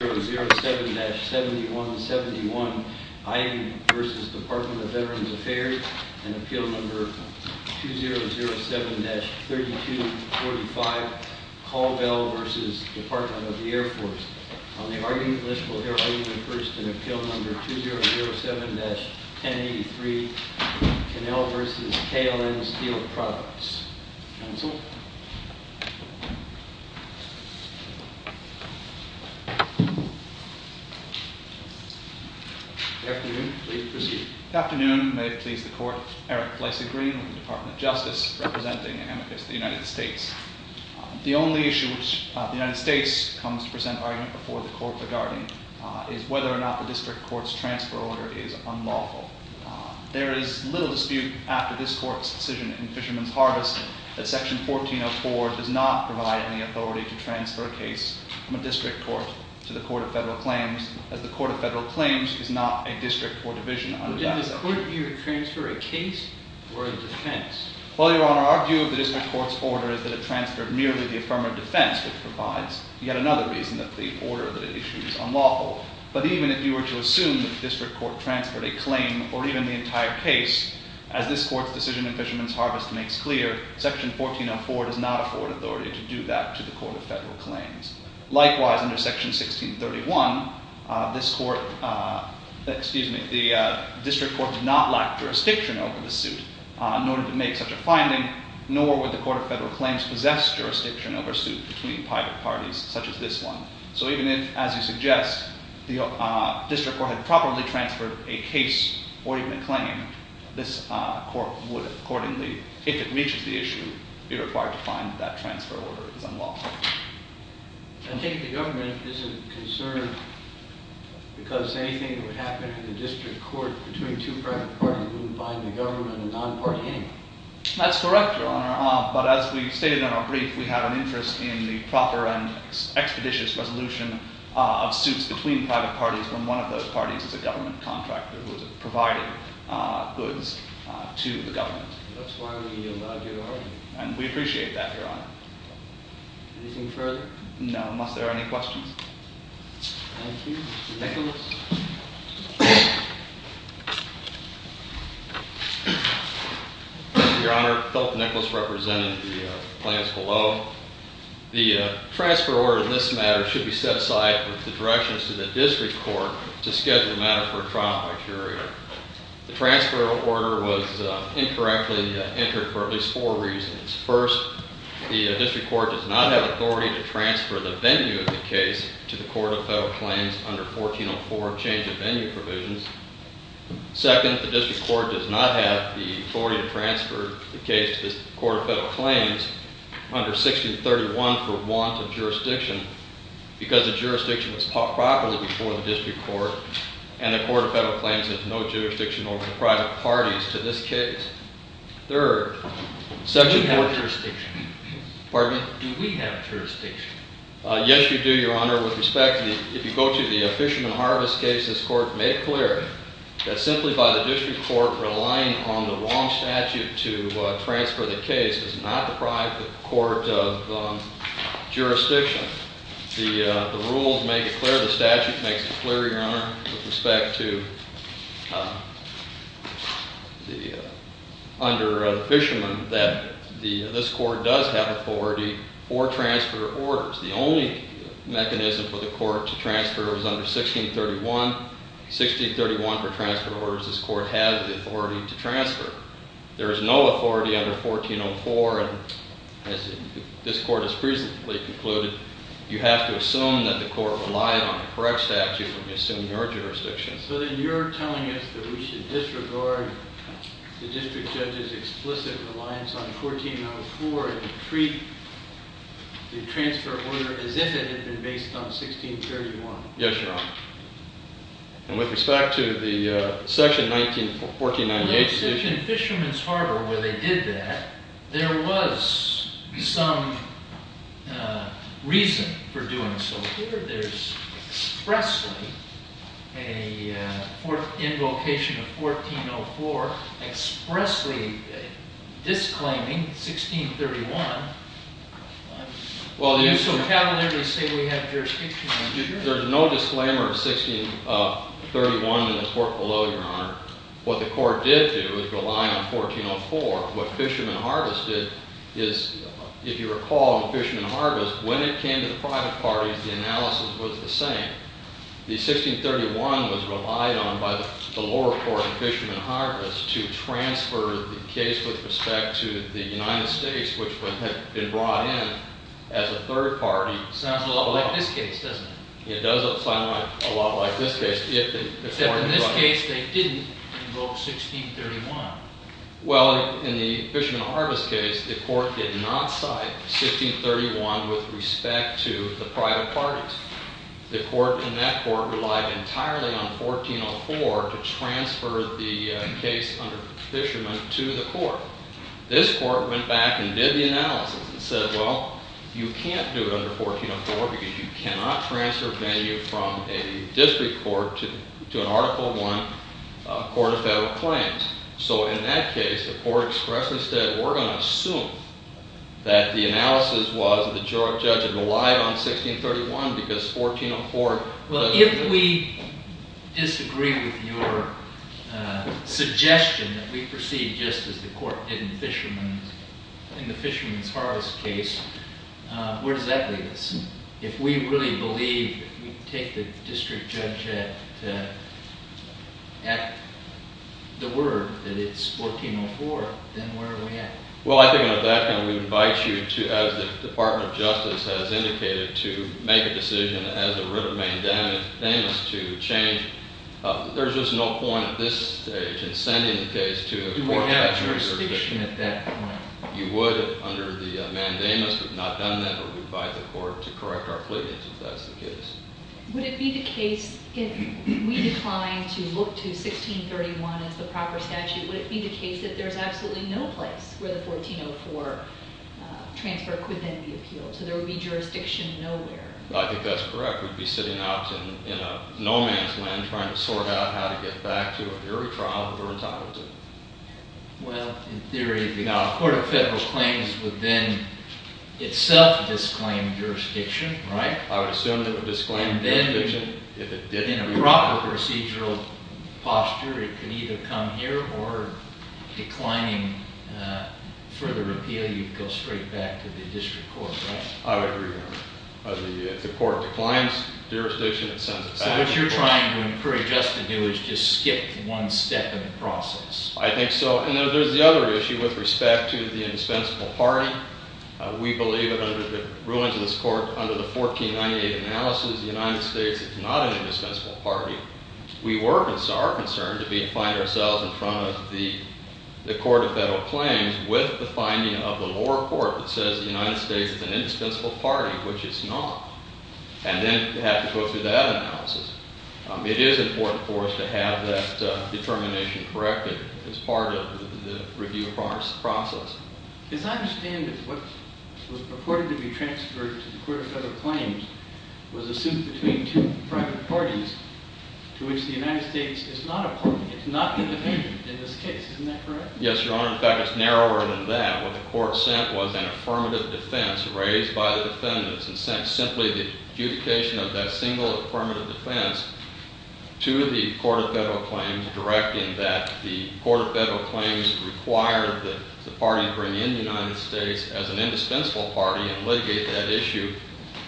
2007-7171, Ivey v. Department of Veterans Affairs. An appeal number 2007-3245, Colville v. Department of the Air Force. On the argument list, we'll hear argument first in appeal number 2007-1083, Cannell v. KLN Steel Products. Counsel. Afternoon, please proceed. Afternoon, may it please the court. Eric Fleissig-Green with the Department of Justice, representing amicus of the United States. The only issue which the United States comes to present argument before the court regarding is whether or not the district court's transfer order is unlawful. There is little dispute after this court's decision in Fisherman's Harvest that Section 1404 does not provide any authority to transfer a case from a district court to the Court of Federal Claims, as the Court of Federal Claims is not a district or division under that order. Could you transfer a case or a defense? Well, your honor, our view of the district court's order is that it transferred merely the affirmative defense, which provides yet another reason that the order that it issued is unlawful. But even if you were to assume that the district court transferred a claim, or even the entire case, as this court's decision in Fisherman's Harvest makes clear, Section 1404 does not afford authority to do that to the Court of Federal Claims. Likewise, under Section 1631, this court, excuse me, the district court did not lack jurisdiction over the suit in order to make such a finding, nor would the Court of Federal Claims possess jurisdiction over a suit between private parties such as this one. So even if, as you suggest, the district court had properly transferred a case or even a claim, this court would accordingly, if it reaches the issue, be required to find that transfer order is unlawful. I think the government is concerned because anything that would happen in the district court between two private parties wouldn't bind the government and non-party anyone. That's correct, Your Honor, but as we've stated in our brief, we have an interest in the proper and expeditious resolution of suits between private parties when one of those parties is a government contractor who is providing goods to the government. That's why we allowed your order. And we appreciate that, Your Honor. Anything further? No, unless there are any questions. Thank you. Nicholas. Your Honor, Philip Nicholas representing the plans below. The transfer order in this matter should be set aside with the directions to the district court to schedule the matter for a trial by jury. The transfer order was incorrectly entered for at least four reasons. First, the district court does not have authority to transfer the venue of the case to the Court of Federal Claims under 1404, change of venue provisions. Second, the district court does not have the authority to transfer the case to the Court of Federal Claims under 1631 for want of jurisdiction. Because the jurisdiction was properly before the district court and the Court of Federal Claims has no jurisdiction over the private parties to this case. Third, section four- Do we have jurisdiction? Pardon me? Do we have jurisdiction? Yes, you do, Your Honor. Your Honor, with respect, if you go to the Fisherman Harvest case, this court made clear that simply by the district court relying on the wrong statute to transfer the case does not deprive the court of jurisdiction. The rules make it clear, the statute makes it clear, Your Honor, with respect to, under Fisherman, that this court does have authority for transfer of orders. The only mechanism for the court to transfer is under 1631. 1631 for transfer of orders, this court has the authority to transfer. There is no authority under 1404, and as this court has recently concluded, you have to assume that the court relied on the correct statute when you assume your jurisdiction. So then you're telling us that we should disregard the district judge's explicit reliance on 1404 and treat the transfer of order as if it had been based on 1631. Yes, Your Honor, and with respect to the section 1498- In Fisherman's Harbor, where they did that, there was some reason for doing so. Here there's expressly an invocation of 1404 expressly disclaiming 1631. Well, there's no disclaimer of 1631 in this work below, Your Honor. What the court did do was rely on 1404. What Fisherman Harvest did is, if you recall in Fisherman Harvest, when it came to the private parties, the analysis was the same. The 1631 was relied on by the lower court in Fisherman Harvest to transfer the case with respect to the United States, which had been brought in as a third party. Sounds a lot like this case, doesn't it? It does sound a lot like this case. If in this case they didn't invoke 1631. Well, in the Fisherman Harvest case, the court did not cite 1631 with respect to the private parties. The court in that court relied entirely on 1404 to transfer the case under Fisherman to the court. This court went back and did the analysis and said, well, you can't do it under 1404 because you cannot transfer a venue from a district court to an Article I court of federal claims. So in that case, the court expresses that we're going to assume that the analysis was the judge relied on 1631 because 1404 doesn't do it. Well, if we disagree with your suggestion that we proceed just as the court did in the Fisherman's Harvest case, where does that leave us? If we really believe, if we take the district judge at the word that it's 1404, then where are we at? Well, I think at that point, we would invite you to, as the Department of Justice has indicated, to make a decision as a writ of mandamus to change. There's just no point at this stage in sending the case to a court that has jurisdiction. Do we have a jurisdiction at that point? You would if under the mandamus, but we've not done that. We'd invite the court to correct our pleadings if that's the case. Would it be the case if we declined to look to 1631 as the proper statute, would it be the case that there's absolutely no place where the 1404 transfer could then be appealed? So there would be jurisdiction nowhere. I think that's correct. We'd be sitting out in a no man's land trying to sort out how to get back to an early trial if we're entitled to. Well, in theory, a court of federal claims would then itself disclaim jurisdiction, right? I would assume that it would disclaim jurisdiction if it didn't. In a proper procedural posture, it could either come here or declining further appeal, you'd go straight back to the district court, right? I would agree with that. If the court declines jurisdiction, it sends it back. So what you're trying to encourage us to do is just skip one step in the process. I think so. And then there's the other issue with respect to the indispensable party. We believe that under the rulings of this court, under the 1498 analysis, the United States is not an indispensable party. We were concerned to find ourselves in front of the court of federal claims with the finding of the lower court that says the United States is an indispensable party, which it's not. And then to have to go through that analysis. It is important for us to have that determination corrected as part of the review of our process. As I understand it, what was purported to be transferred to the court of federal claims was a suit between two private parties to which the United States is not a party. It's not independent in this case. Isn't that correct? Yes, Your Honor. In fact, it's narrower than that. What the court sent was an affirmative defense raised by the defendants and sent simply the adjudication of that single affirmative defense to the court of federal claims, directing that the court of federal claims required that the party bring in the United States as an indispensable party and litigate that issue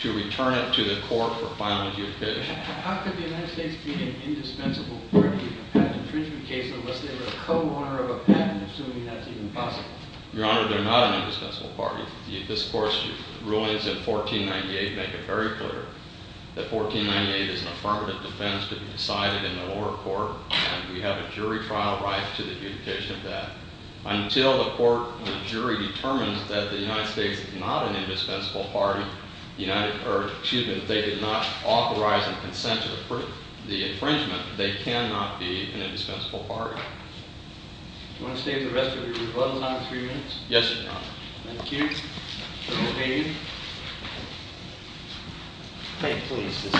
to return it to the court for final adjudication. How could the United States be an indispensable party in a patent infringement case unless they were a co-owner of a patent, assuming that's even possible? Your Honor, they're not an indispensable party. This court's rulings in 1498 make it very clear that 1498 is an affirmative defense to be decided in the lower court, and we have a jury trial right to the adjudication of that. Until the court and the jury determines that the United States is not an indispensable party, excuse me, they did not authorize and consent to the infringement, they cannot be an indispensable party. Do you want to stay for the rest of your rebuttal time, three minutes? Yes, Your Honor. Thank you. Mr. Bain. May it please this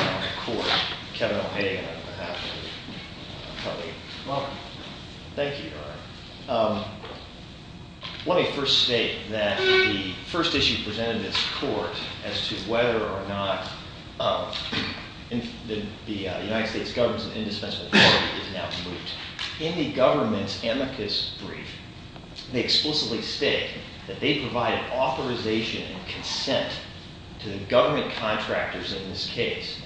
court, Kevin O'Hagan on behalf of the public. Thank you, Your Honor. Let me first state that the first issue presented in this court as to whether or not the United States governs an indispensable party is now moot. In the government's amicus brief, they explicitly state that they provided authorization and consent to the government contractors in this case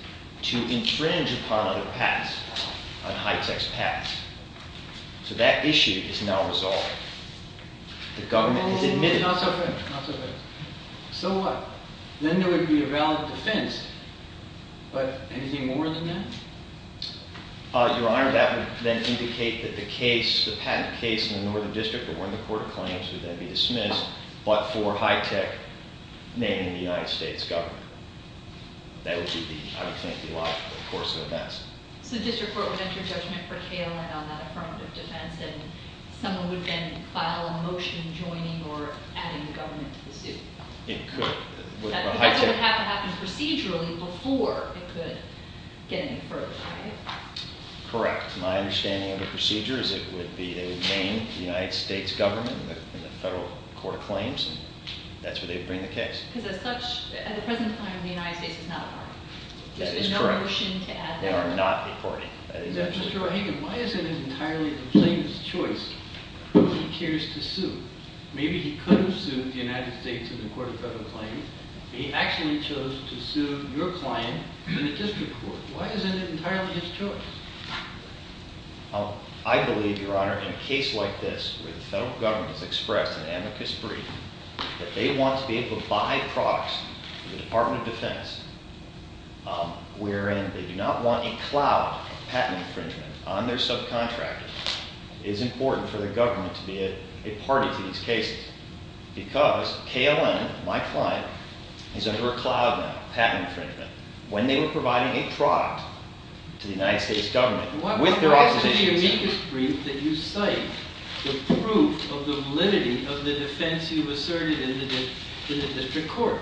to infringe upon other patents, on high-tax patents. So that issue is now resolved. The government has admitted- Not so fast, not so fast. So what? Then there would be a valid defense. But anything more than that? Your Honor, that would then indicate that the case, the patent case in the Northern District, or where the court claims would then be dismissed, but for high-tech naming the United States government. That would be, I would think, the logical course of events. So the district court would enter judgment for KLA on that affirmative defense and someone would then file a motion joining or adding the government to the suit? It could. That would have to happen procedurally before it could get any further, right? Correct. My understanding of the procedure is it would be, they would name the United States government in the federal court of claims and that's where they would bring the case. Because as such, at the present time, the United States is not a party. That is correct. There's been no motion to add the government. They are not a party. That is absolutely correct. Mr. O'Hagan, why is it entirely the plaintiff's choice who he cares to sue? Maybe he could have sued the United States in the court of federal claims, but he actually chose to sue your client in the district court. Why is it entirely his choice? I believe, Your Honor, in a case like this where the federal government has expressed an amicus brief that they want to be able to buy products from the Department of Defense wherein they do not want a cloud of patent infringement on their subcontractor, it is important for the government to be a party to these cases because KLM, my client, is under a cloud now of patent infringement. When they were providing a product to the United States government with their opposition to it. What applies to the amicus brief that you cite the proof of the validity of the defense you've asserted in the district court?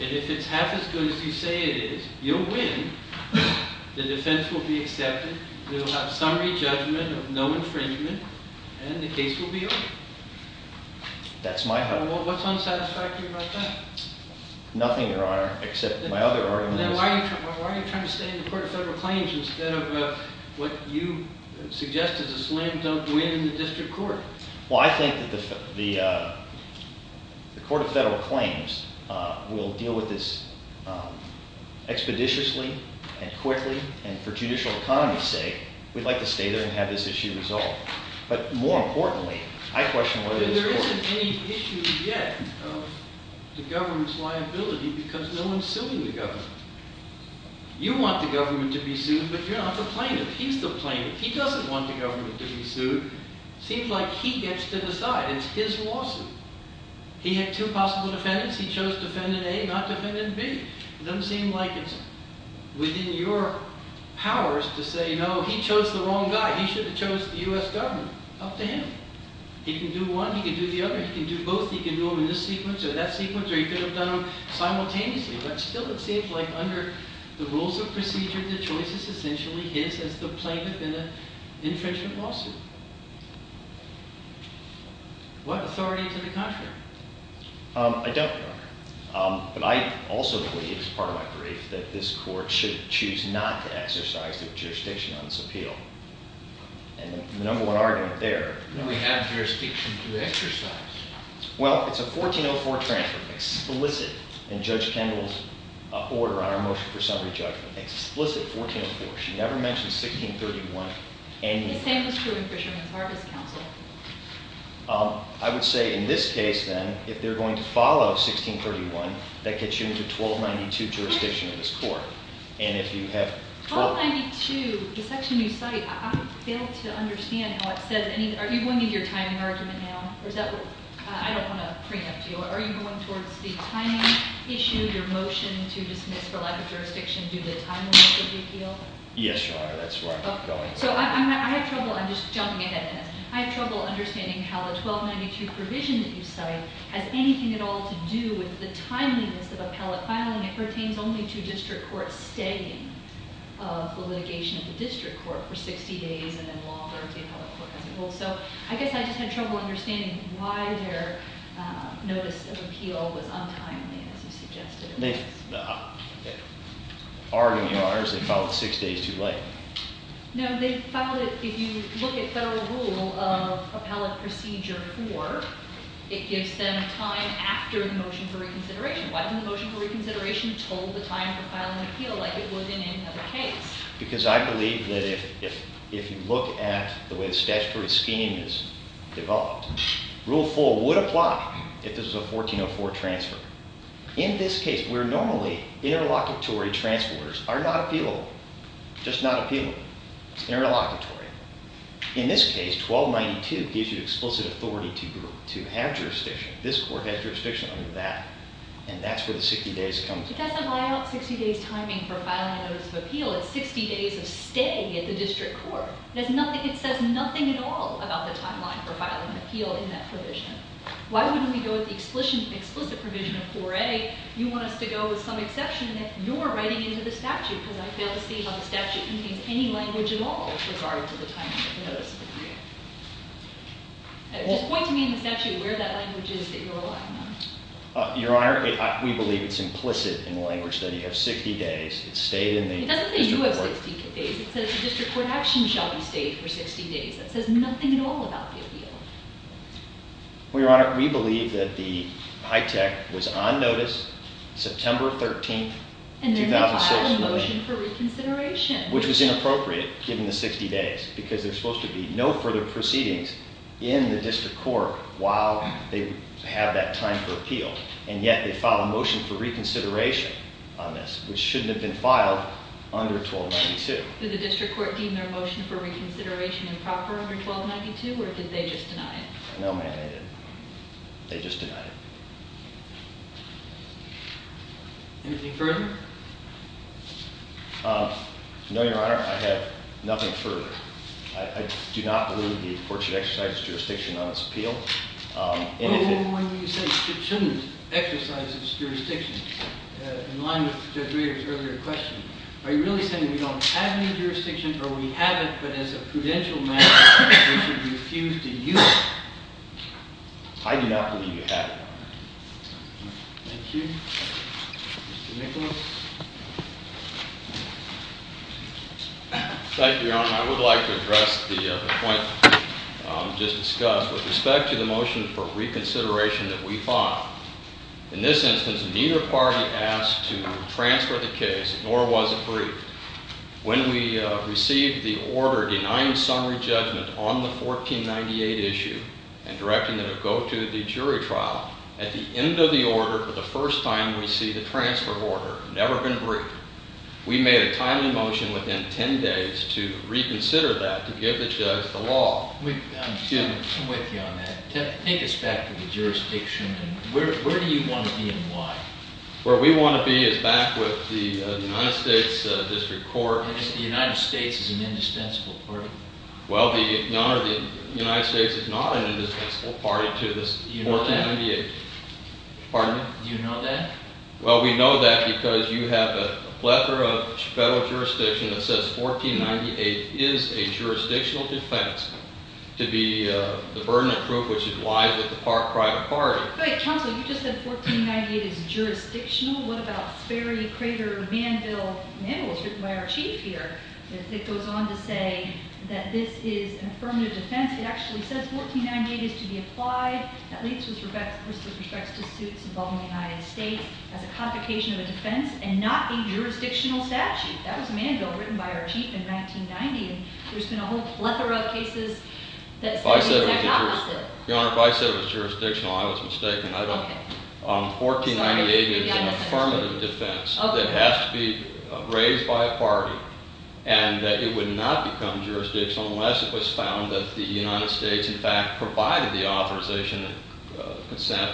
And if it's half as good as you say it is, you'll win. The defense will be accepted. We will have summary judgment of no infringement, and the case will be over. That's my hope. What's unsatisfactory about that? Nothing, Your Honor, except my other argument is... Then why are you trying to stay in the Court of Federal Claims instead of what you suggest is a slam-dunk win in the district court? Well, I think that the Court of Federal Claims will deal with this expeditiously and quickly, and for judicial economy's sake, we'd like to stay there and have this issue resolved. But more importantly, I question whether this court... the government's liability because no one's suing the government. You want the government to be sued, but you're not the plaintiff. He's the plaintiff. He doesn't want the government to be sued. Seems like he gets to decide. It's his lawsuit. He had two possible defendants. He chose defendant A, not defendant B. It doesn't seem like it's within your powers to say, no, he chose the wrong guy. He should have chose the U.S. government. Up to him. He can do one, he can do the other, he can do both, he can do them in this sequence or that sequence, or he could have done them simultaneously. But still it seems like under the rules of procedure, the choice is essentially his as the plaintiff in an infringement lawsuit. What authority to the contrary? I don't, Your Honor. But I also believe, as part of my brief, that this court should choose not to exercise the jurisdiction on this appeal. And the number one argument there... We have jurisdiction to exercise. Well, it's a 1404 transfer. Explicit in Judge Kendall's order on our motion for summary judgment. Explicit, 1404. She never mentioned 1631. The same was true in Fisherman's Harvest Council. I would say in this case, then, if they're going to follow 1631, that gets you into 1292 jurisdiction in this court. 1292 is such a new site. I fail to understand how it says any... Are you going into your timing argument now? I don't want to preempt you. Are you going towards the timing issue, your motion to dismiss for lack of jurisdiction due to the timing of the appeal? Yes, Your Honor. That's where I'm going. So I have trouble... I'm just jumping ahead in this. I have trouble understanding how the 1292 provision that you cite has anything at all to do with the timeliness of appellate filing. It pertains only to district court staying of litigation at the district court for 60 days and then longer if the appellate court has a rule. So I guess I just had trouble understanding why their notice of appeal was untimely, as you suggested. The argument, Your Honor, is they filed it six days too late. No, they filed it... If you look at federal rule of appellate procedure 4, it gives them time after the motion for reconsideration. Why didn't the motion for reconsideration total the time for filing an appeal like it would in any other case? Because I believe that if you look at the way the statutory scheme is devolved, rule 4 would apply if this was a 1404 transfer. In this case, where normally interlocutory transfer orders are not appealable, just not appealable, interlocutory, in this case 1292 gives you explicit authority to have jurisdiction. This court has jurisdiction under that, and that's where the 60 days come from. It doesn't buy out 60 days' timing for filing a notice of appeal. It's 60 days of stay at the district court. It says nothing at all about the timeline for filing an appeal in that provision. Why wouldn't we go with the explicit provision of 4A? You want us to go with some exception that you're writing into the statute because I fail to see how the statute contains any language at all with regard to the timing of the notice of appeal. Just point to me in the statute where that language is that you're relying on. Your Honor, we believe it's implicit in the language that you have 60 days. It's stayed in the district court. It doesn't say you have 60 days. It says the district court action shall be stayed for 60 days. That says nothing at all about the appeal. Well, Your Honor, we believe that the HITECH was on notice September 13, 2006. And then they filed a motion for reconsideration. Which was inappropriate given the 60 days because there's supposed to be no further proceedings in the district court while they have that time for appeal. And yet they filed a motion for reconsideration on this, which shouldn't have been filed under 1292. Did the district court deem their motion for reconsideration improper under 1292 or did they just deny it? No, ma'am, they didn't. They just denied it. Anything further? No, Your Honor, I have nothing further. I do not believe the court should exercise its jurisdiction on its appeal. Well, why do you say it shouldn't exercise its jurisdiction? In line with Judge Rader's earlier question, are you really saying we don't have any jurisdiction or we have it, but as a prudential matter, we should refuse to use it? I do not believe you have it, Your Honor. Thank you. Mr. Nicholas? Thank you, Your Honor. I would like to address the point just discussed with respect to the motion for reconsideration that we filed. In this instance, neither party asked to transfer the case, nor was it briefed. When we received the order denying summary judgment on the 1498 issue and directing it to go to the jury trial, at the end of the order for the first time we see the transfer order, never been briefed. We made a timely motion within 10 days to reconsider that, to give the judge the law. Excuse me. I'm with you on that. Take us back to the jurisdiction. Where do you want to be and why? Where we want to be is back with the United States District Court. The United States is an indispensable party. Well, Your Honor, the United States is not an indispensable party to this 1498. Pardon me? Do you know that? Well, we know that because you have a plethora of federal jurisdiction that says 1498 is a jurisdictional defense to be the burden of proof, which it lies with the private party. But, counsel, you just said 1498 is jurisdictional. What about Ferry, Crater, Manville? It was written by our chief here. It goes on to say that this is an affirmative defense. It actually says 1498 is to be applied. At least with respect to suits involving the United States as a complication of a defense and not a jurisdictional statute. That was Manville, written by our chief in 1990, and there's been a whole plethora of cases that say the exact opposite. Your Honor, if I said it was jurisdictional, I was mistaken. 1498 is an affirmative defense that has to be raised by a party and that it would not become jurisdictional unless it was found that the United States, in fact, provided the authorization and consent.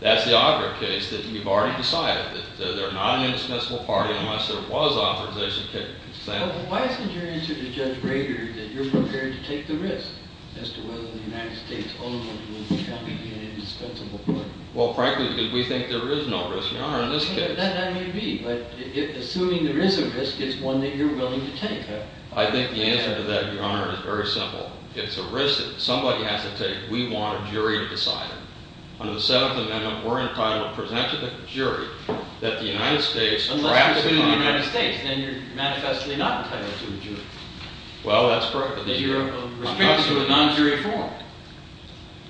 That's the auger case that you've already decided, that there's not an indispensable party unless there was authorization and consent. Well, then why isn't your answer to Judge Rader that you're prepared to take the risk as to whether the United States owns the country in an indispensable court? Well, frankly, because we think there is no risk, Your Honor, in this case. That may be, but assuming there is a risk, it's one that you're willing to take. I think the answer to that, Your Honor, is very simple. It's a risk that somebody has to take. We want a jury to decide it. Under the Seventh Amendment, we're entitled to present to the jury that the United States— Unless you're suing the United States, then you're manifestly not entitled to a jury. Well, that's correct. Then you're restricted to a non-jury form.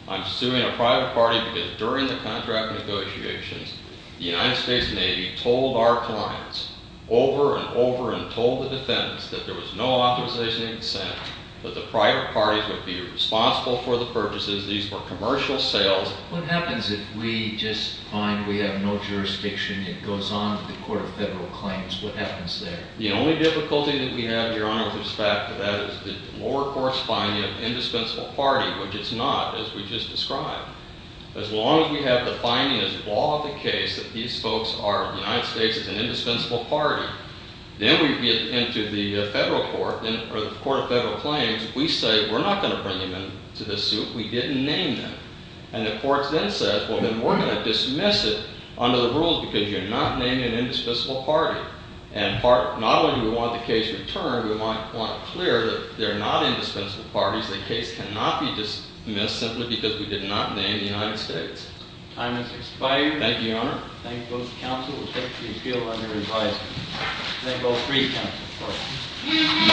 I'm suing a private party because during the contract negotiations, the United States Navy told our clients over and over and told the defendants that there was no authorization in the Senate, that the private parties would be responsible for the purchases. These were commercial sales. What happens if we just find we have no jurisdiction? It goes on to the Court of Federal Claims. What happens there? The only difficulty that we have, Your Honor, with respect to that is the lower-course finding of indispensable party, which it's not, as we just described. As long as we have the finding as a ball of the case that these folks are—the United States is an indispensable party, then we get into the Federal Court, or the Court of Federal Claims. We say, we're not going to bring them into this suit. We didn't name them. And the court then says, well, then we're going to dismiss it under the rules because you're not naming an indispensable party. And not only do we want the case returned, we want it clear that they're not indispensable parties. The case cannot be dismissed simply because we did not name the United States. Time has expired. Thank you, Your Honor. Thank both counsels. Thank the appeal under advisory. Thank all three counsels. Court is adjourned.